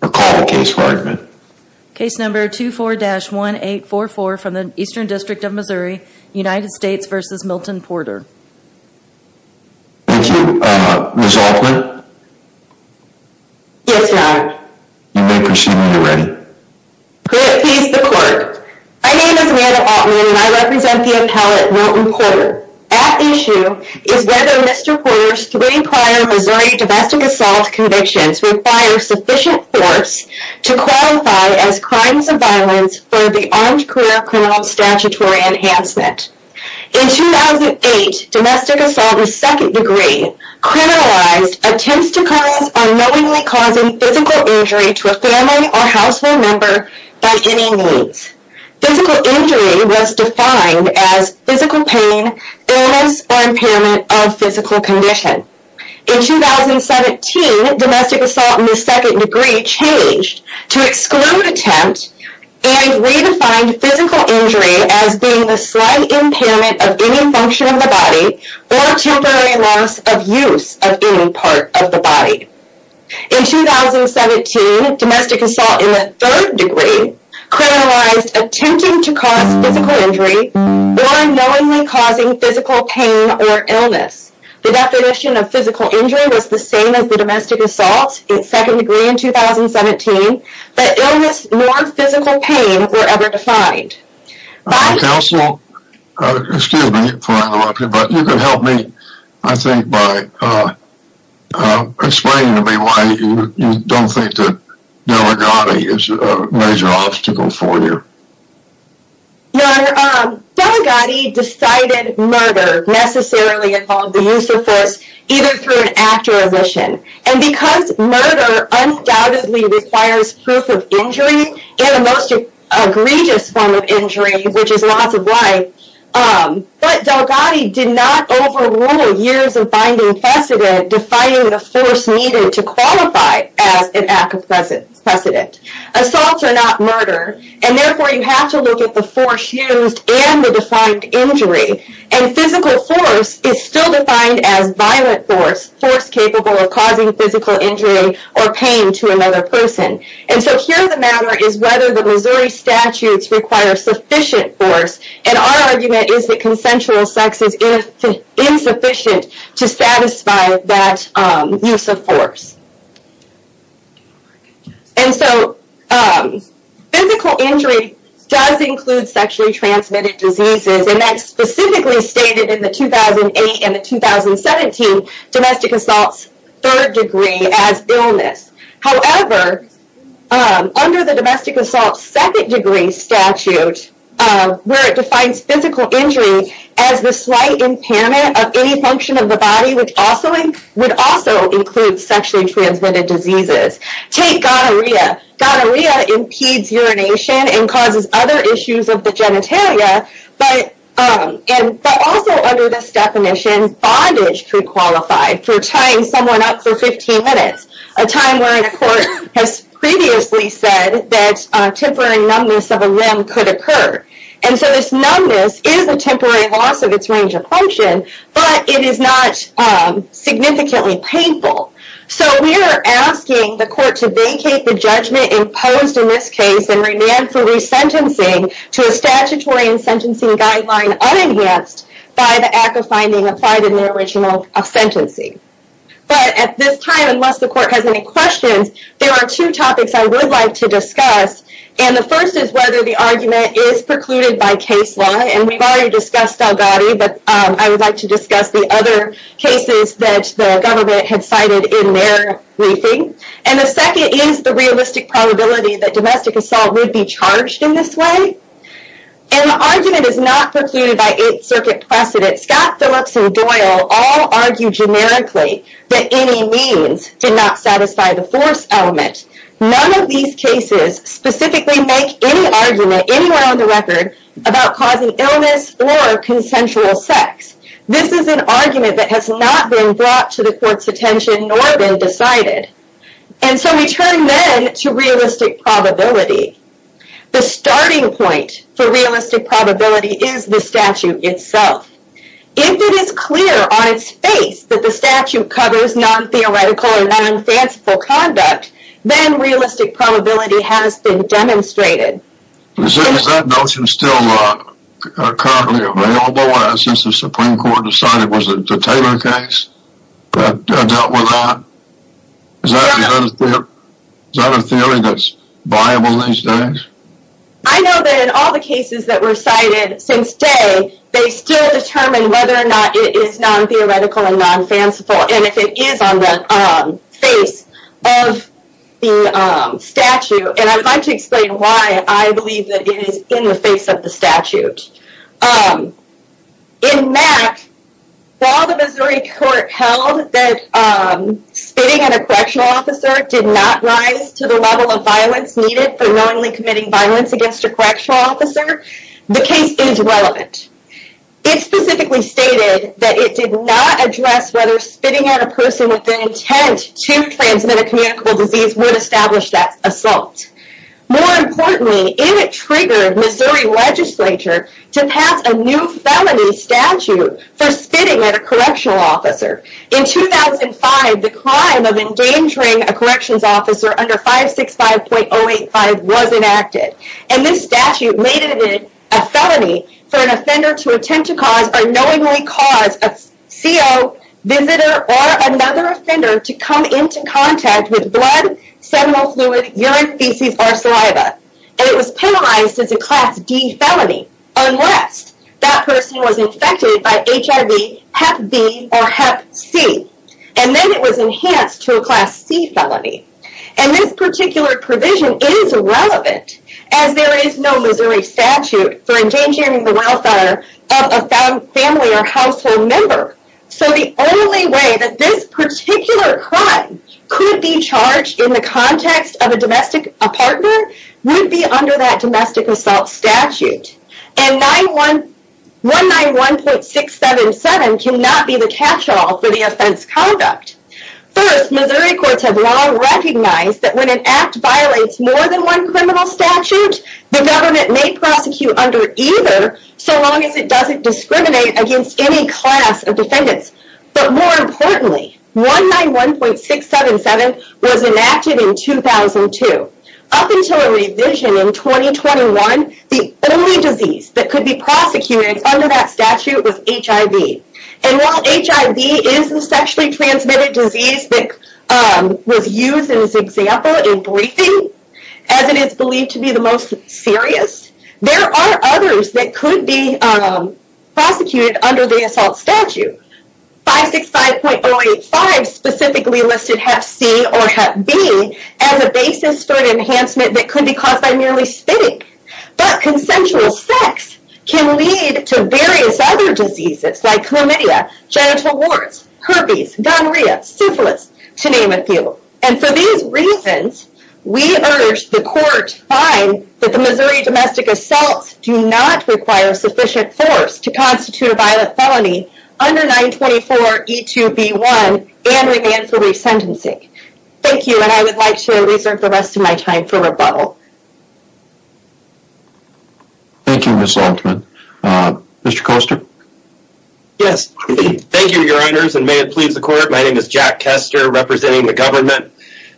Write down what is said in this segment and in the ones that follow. Thank you. Ms. Altman? Yes, Your Honor. You may proceed when you are ready. Could it please the Court? My name is Amanda Altman and I represent the appellate Milton Porter. At issue is whether Mr. Porter's three prior Missouri domestic assault convictions require sufficient force to qualify as crimes of violence for the Armed Career Criminal Statutory Enhancement. In 2008, domestic assault in second degree criminalized attempts to cause unknowingly causing physical injury to a family or household member by any means. Physical injury was defined as physical pain, illness, or impairment of physical condition. In 2017, domestic assault in the second degree changed to exclude attempt and redefined physical injury as being the slight impairment of any function of the body or temporary loss of use of any part of the body. In 2017, domestic assault in the third degree criminalized attempting to cause physical injury or unknowingly causing physical pain or illness. The definition of physical injury was the same as the domestic assault in second degree in 2017, but illness nor physical pain were ever defined. Counsel, excuse me for interrupting, but you can help me I think by explaining to me why you don't think that Delegati is a major obstacle for you. Your Honor, Delegati decided murder necessarily involved the use of force either through an act or a vision. And because murder undoubtedly requires proof of injury and a most egregious form of injury, which is loss of life, but Delegati did not overrule years of finding precedent defining the force needed to qualify as an act of precedent. Assaults are not murder, and therefore you have to look at the force used and the defined injury. And physical force is still defined as violent force, force capable of causing physical injury or pain to another person. And so here the matter is whether the Missouri statutes require sufficient force, and our argument is that consensual sex is insufficient to satisfy that use of force. And so physical injury does include sexually transmitted diseases, and that's specifically stated in the 2008 and the 2017 domestic assaults third degree as illness. However, under the domestic assault second degree statute, where it defines physical injury as the slight impairment of any function of the body, which would also include sexually transmitted diseases. Take gonorrhea. Gonorrhea impedes urination and causes other issues of the genitalia, but also under this definition, bondage could qualify for tying someone up for 15 minutes, a time where a court has previously said that temporary numbness of a limb could occur. And so this numbness is a temporary loss of its range of function, but it is not significantly painful. So we are asking the court to vacate the judgment imposed in this case and remand for resentencing to a statutory and sentencing guideline unenhanced by the act of finding applied in the original sentencing. But at this time, unless the court has any questions, there are two topics I would like to discuss. And the first is whether the argument is precluded by case law. And we've already discussed Dalgadi, but I would like to discuss the other cases that the government had cited in their briefing. And the second is the realistic probability that domestic assault would be charged in this way. And the argument is not precluded by Eighth Circuit precedent. Scott Phillips and Doyle all argue generically that any means did not satisfy the force element. None of these cases specifically make any argument anywhere on the record about causing illness or consensual sex. This is an argument that has not been brought to the court's attention nor been decided. And so we turn then to realistic probability. The starting point for realistic probability is the statute itself. If it is clear on its face that the statute covers non-theoretical or non-fanciful conduct, then realistic probability has been demonstrated. Is that notion still currently available? Since the Supreme Court decided it was a Taylor case that dealt with that? Is that a theory that's viable these days? I know that in all the cases that were cited since day, they still determine whether or not it is non-theoretical and non-fanciful. And if it is on the face of the statute. And I would like to explain why I believe that it is in the face of the statute. In that, while the Missouri court held that spitting at a correctional officer did not rise to the level of violence needed for knowingly committing violence against a correctional officer, the case is relevant. It specifically stated that it did not address whether spitting at a person with the intent to transmit a communicable disease would establish that assault. More importantly, it triggered Missouri legislature to pass a new felony statute for spitting at a correctional officer. In 2005, the crime of endangering a corrections officer under 565.085 was enacted. And this statute made it a felony for an offender to attempt to cause or knowingly cause a CO, visitor, or another offender to come into contact with blood, seminal fluid, urine, feces, or saliva. And it was penalized as a Class D felony. Unless that person was infected by HIV, Hep B, or Hep C. And then it was enhanced to a Class C felony. And this particular provision is relevant, as there is no Missouri statute for endangering the welfare of a family or household member. So the only way that this particular crime could be charged in the context of a domestic partner would be under that domestic assault statute. And 191.677 cannot be the catch-all for the offense conduct. First, Missouri courts have long recognized that when an act violates more than one criminal statute, the government may prosecute under either, so long as it doesn't discriminate against any class of defendants. But more importantly, 191.677 was enacted in 2002. Up until a revision in 2021, the only disease that could be prosecuted under that statute was HIV. And while HIV is the sexually transmitted disease that was used in this example in briefing, as it is believed to be the most serious, there are others that could be prosecuted under the assault statute. 565.085 specifically listed Hep C or Hep B as a basis for an enhancement that could be caused by merely spitting. But consensual sex can lead to various other diseases like chlamydia, genital warts, herpes, gonorrhea, syphilis, to name a few. And for these reasons, we urge the court to find that the Missouri domestic assaults do not require sufficient force to constitute a violent felony under 924.E2.B1 and remand for resentencing. Thank you and I would like to reserve the rest of my time for rebuttal. Thank you, Ms. Altman. Mr. Koester? Yes, thank you, Your Honors, and may it please the court, my name is Jack Koester representing the government.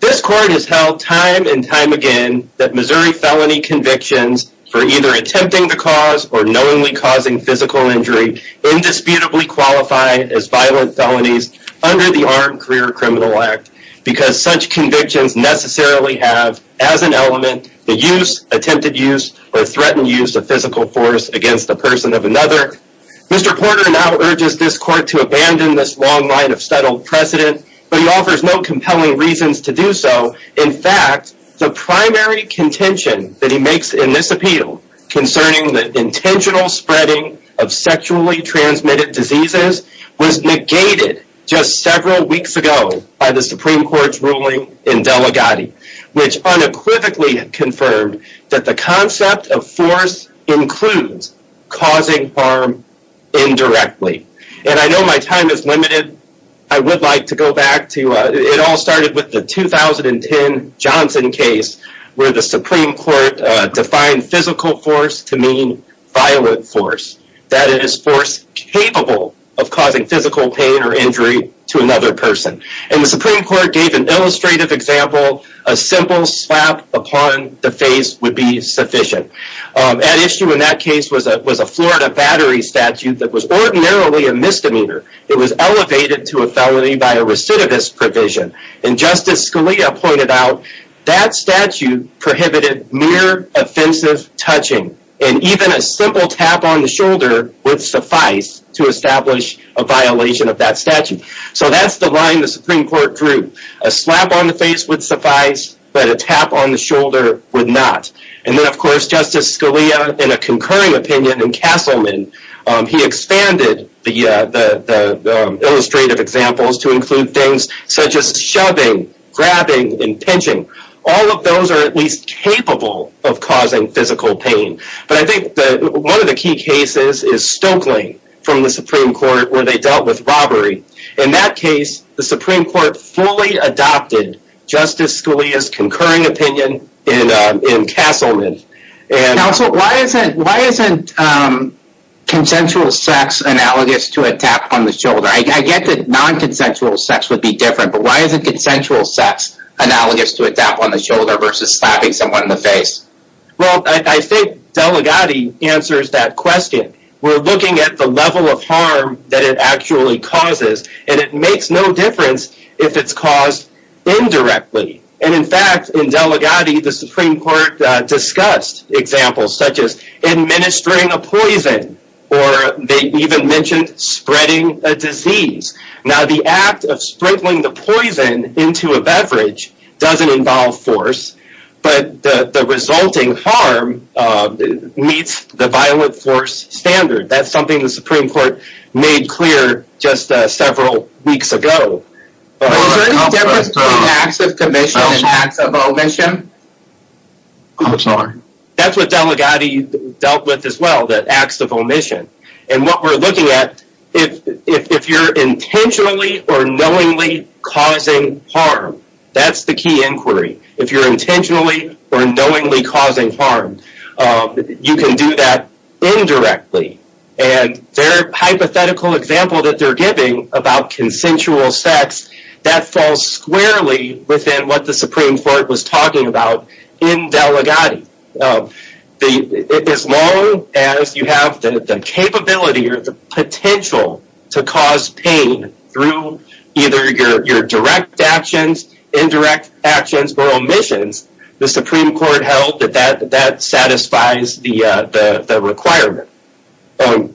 This court has held time and time again that Missouri felony convictions for either attempting the cause or knowingly causing physical injury indisputably qualify as violent felonies under the Armed Career Criminal Act because such convictions necessarily have, as an element, the use, attempted use, or threatened use of physical force against a person of another. Mr. Porter now urges this court to abandon this long line of settled precedent, but he offers no compelling reasons to do so. In fact, the primary contention that he makes in this appeal concerning the intentional spreading of sexually transmitted diseases was negated just several weeks ago by the Supreme Court's ruling in Delegati, which unequivocally confirmed that the concept of force includes causing harm indirectly. And I know my time is limited, I would like to go back to, it all started with the 2010 Johnson case where the Supreme Court defined physical force to mean violent force, that is force capable of causing physical pain or injury to another person. And the Supreme Court gave an illustrative example, a simple slap upon the face would be sufficient. At issue in that case was a Florida battery statute that was ordinarily a misdemeanor. It was elevated to a felony by a recidivist provision. And Justice Scalia pointed out that statute prohibited mere offensive touching, and even a simple tap on the shoulder would suffice to establish a violation of that statute. So that's the line the Supreme Court drew. A slap on the face would suffice, but a tap on the shoulder would not. And then of course Justice Scalia, in a concurring opinion in Castleman, he expanded the illustrative examples to include things such as shoving, grabbing, and pinching. All of those are at least capable of causing physical pain. But I think one of the key cases is Stokely from the Supreme Court where they dealt with robbery. In that case, the Supreme Court fully adopted Justice Scalia's concurring opinion in Castleman. Counsel, why isn't consensual sex analogous to a tap on the shoulder? I get that non-consensual sex would be different, but why isn't consensual sex analogous to a tap on the shoulder versus slapping someone in the face? Well, I think Delegati answers that question. We're looking at the level of harm that it actually causes, and it makes no difference if it's caused indirectly. And in fact, in Delegati, the Supreme Court discussed examples such as administering a poison, or they even mentioned spreading a disease. Now the act of sprinkling the poison into a beverage doesn't involve force, but the resulting harm meets the violent force standard. That's something the Supreme Court made clear just several weeks ago. Is there any difference between acts of commission and acts of omission? I'm sorry. That's what Delegati dealt with as well, the acts of omission. And what we're looking at, if you're intentionally or knowingly causing harm, that's the key inquiry. If you're intentionally or knowingly causing harm, you can do that indirectly. And their hypothetical example that they're giving about consensual sex, that falls squarely within what the Supreme Court was talking about in Delegati. As long as you have the capability or the potential to cause pain through either your direct actions, indirect actions, or omissions, the Supreme Court held that that satisfies the requirement. I'm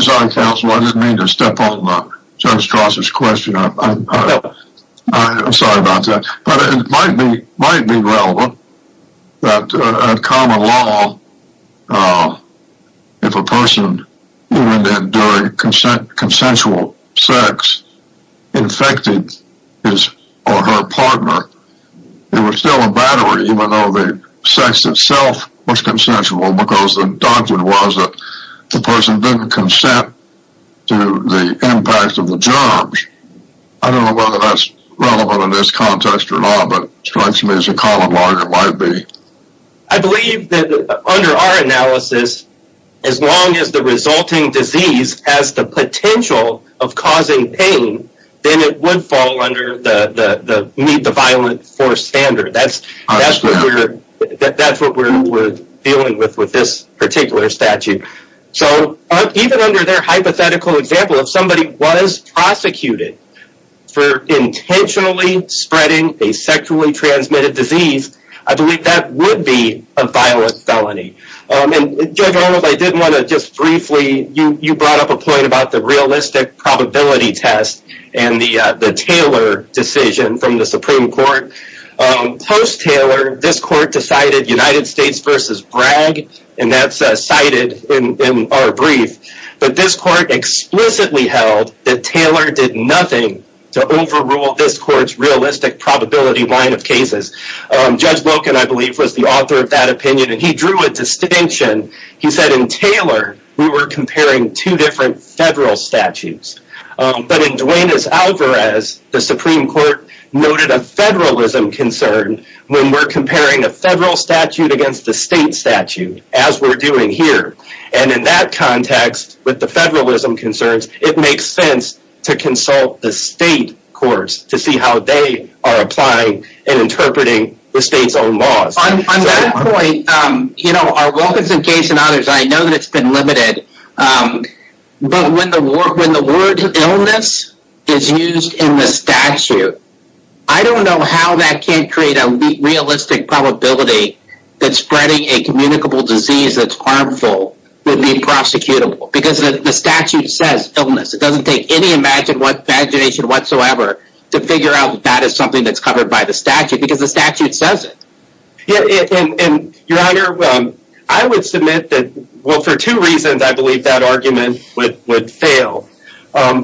sorry, Counselor, I didn't mean to step on Judge Strasser's question. I'm sorry about that. But it might be relevant that in common law, if a person, even during consensual sex, infected his or her partner, it was still a battery even though the sex itself was consensual because the doctrine was that the person didn't consent to the impact of the germs. I don't know whether that's relevant in this context or not, but it strikes me as a common law that it might be. I believe that under our analysis, as long as the resulting disease has the potential of causing pain, then it would fall under the meet the violent force standard. I understand. That's what we're dealing with with this particular statute. Even under their hypothetical example, if somebody was prosecuted for intentionally spreading a sexually transmitted disease, I believe that would be a violent felony. Judge Roland, you brought up a point about the realistic probability test and the Taylor decision from the Supreme Court. Post-Taylor, this court decided United States v. Bragg, and that's cited in our brief. But this court explicitly held that Taylor did nothing to overrule this court's realistic probability line of cases. Judge Loken, I believe, was the author of that opinion, and he drew a distinction. He said in Taylor, we were comparing two different federal statutes. But in Duenas-Alvarez, the Supreme Court noted a federalism concern when we're comparing a federal statute against a state statute, as we're doing here. And in that context, with the federalism concerns, it makes sense to consult the state courts to see how they are applying and interpreting the state's own laws. On that point, our Wilkinson case and others, I know that it's been limited. But when the word illness is used in the statute, I don't know how that can't create a realistic probability that spreading a communicable disease that's harmful would be prosecutable. Because the statute says illness. It doesn't take any imagination whatsoever to figure out that is something that's covered by the statute, because the statute says it. Your Honor, I would submit that, well, for two reasons, I believe that argument would fail.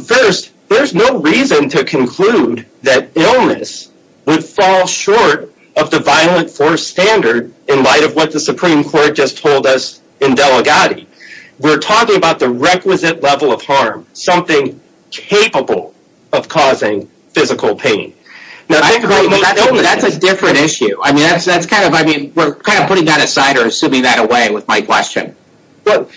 First, there's no reason to conclude that illness would fall short of the violent force standard in light of what the Supreme Court just told us in Delegati. We're talking about the requisite level of harm, something capable of causing physical pain. That's a different issue. We're kind of putting that aside or assuming that away with my question. But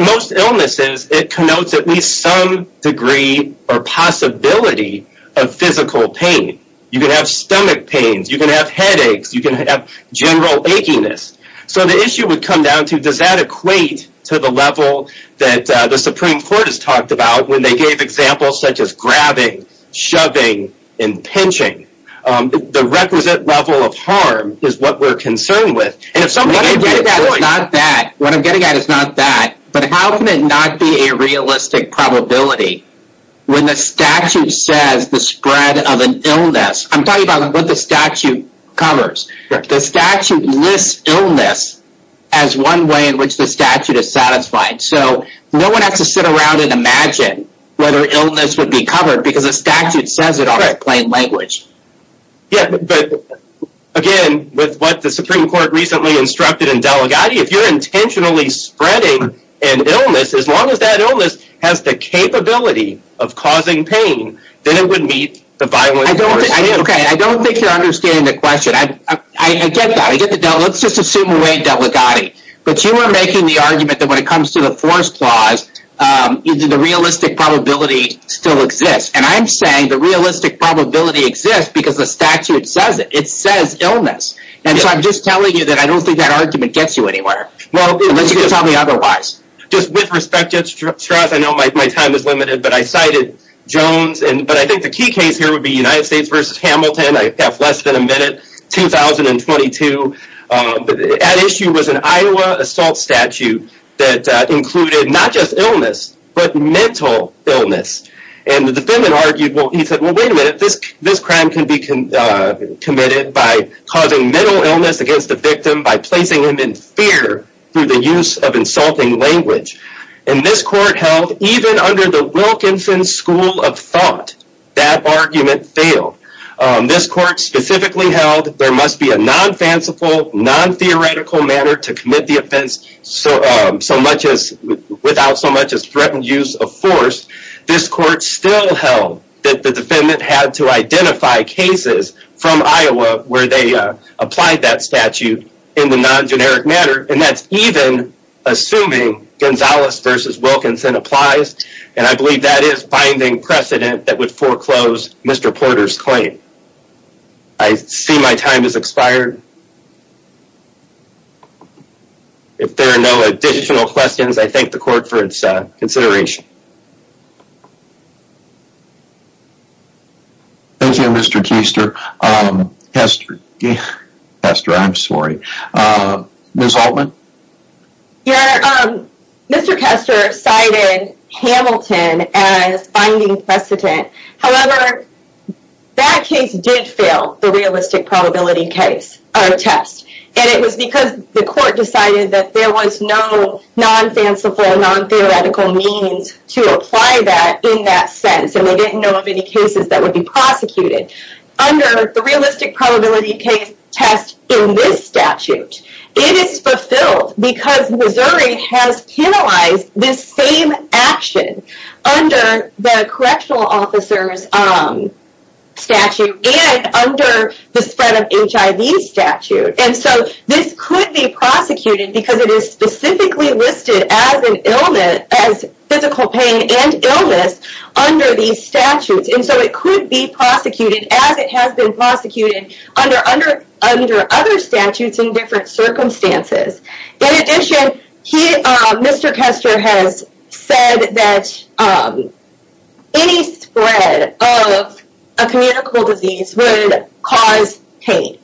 most illnesses, it connotes at least some degree or possibility of physical pain. You can have stomach pains. You can have headaches. You can have general achiness. So the issue would come down to, does that equate to the level that the Supreme Court has talked about when they gave examples such as grabbing, shoving, and pinching? The requisite level of harm is what we're concerned with. What I'm getting at is not that, but how can it not be a realistic probability when the statute says the spread of an illness? I'm talking about what the statute covers. The statute lists illness as one way in which the statute is satisfied. So no one has to sit around and imagine whether illness would be covered because the statute says it all in plain language. Again, with what the Supreme Court recently instructed in Delegati, if you're intentionally spreading an illness, as long as that illness has the capability of causing pain, then it would meet the violent force standard. I don't think you're understanding the question. I get that. Let's just assume away Delegati. But you are making the argument that when it comes to the force clause, the realistic probability still exists. And I'm saying the realistic probability exists because the statute says it. It says illness. And so I'm just telling you that I don't think that argument gets you anywhere, unless you can tell me otherwise. Just with respect, Judge Strauss, I know my time is limited, but I cited Jones. But I think the key case here would be United States v. Hamilton. I have less than a minute. 2022. At issue was an Iowa assault statute that included not just illness, but mental illness. And the defendant argued, well, he said, well, wait a minute. This crime can be committed by causing mental illness against the victim by placing him in fear through the use of insulting language. And this court held, even under the Wilkinson School of Thought, that argument failed. This court specifically held there must be a non-fanciful, non-theoretical manner to commit the offense without so much as threatened use of force. This court still held that the defendant had to identify cases from Iowa where they applied that statute in the non-generic manner. And that's even assuming Gonzalez v. Wilkinson applies. And I believe that is binding precedent that would foreclose Mr. Porter's claim. I see my time has expired. If there are no additional questions, I thank the court for its consideration. Thank you, Mr. Keister. Mr. Keister, I'm sorry. Ms. Altman? Your Honor, Mr. Keister cited Hamilton as binding precedent. However, that case did fail the realistic probability test. And it was because the court decided that there was no non-fanciful, non-theoretical means to apply that in that sentence. And they didn't know of any cases that would be prosecuted. Under the realistic probability test in this statute, it is fulfilled. Because Missouri has penalized this same action under the correctional officer's statute and under the spread of HIV statute. And so this could be prosecuted because it is specifically listed as an illness, as physical pain and illness, under these statutes. And so it could be prosecuted as it has been prosecuted under other statutes in different circumstances. In addition, Mr. Keister has said that any spread of a communicable disease would cause pain.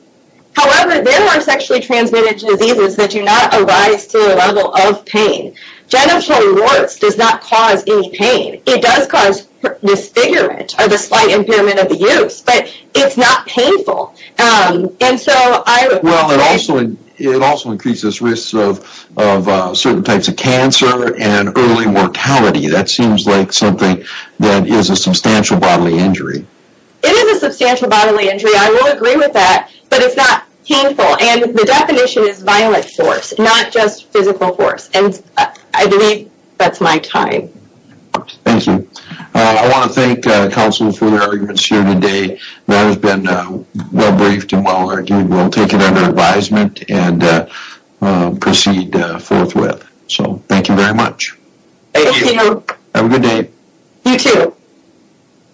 However, there are sexually transmitted diseases that do not arise to the level of pain. Genital warts does not cause any pain. It does cause disfigurement or the slight impairment of the use. But it's not painful. And so I would... Well, it also increases risks of certain types of cancer and early mortality. That seems like something that is a substantial bodily injury. It is a substantial bodily injury. I will agree with that. But it's not painful. And the definition is violent force, not just physical force. And I believe that's my time. Thank you. I want to thank counsel for your arguments here today. That has been well briefed and well argued. We'll take it under advisement and proceed forthwith. So thank you very much. Thank you. Have a good day. You too.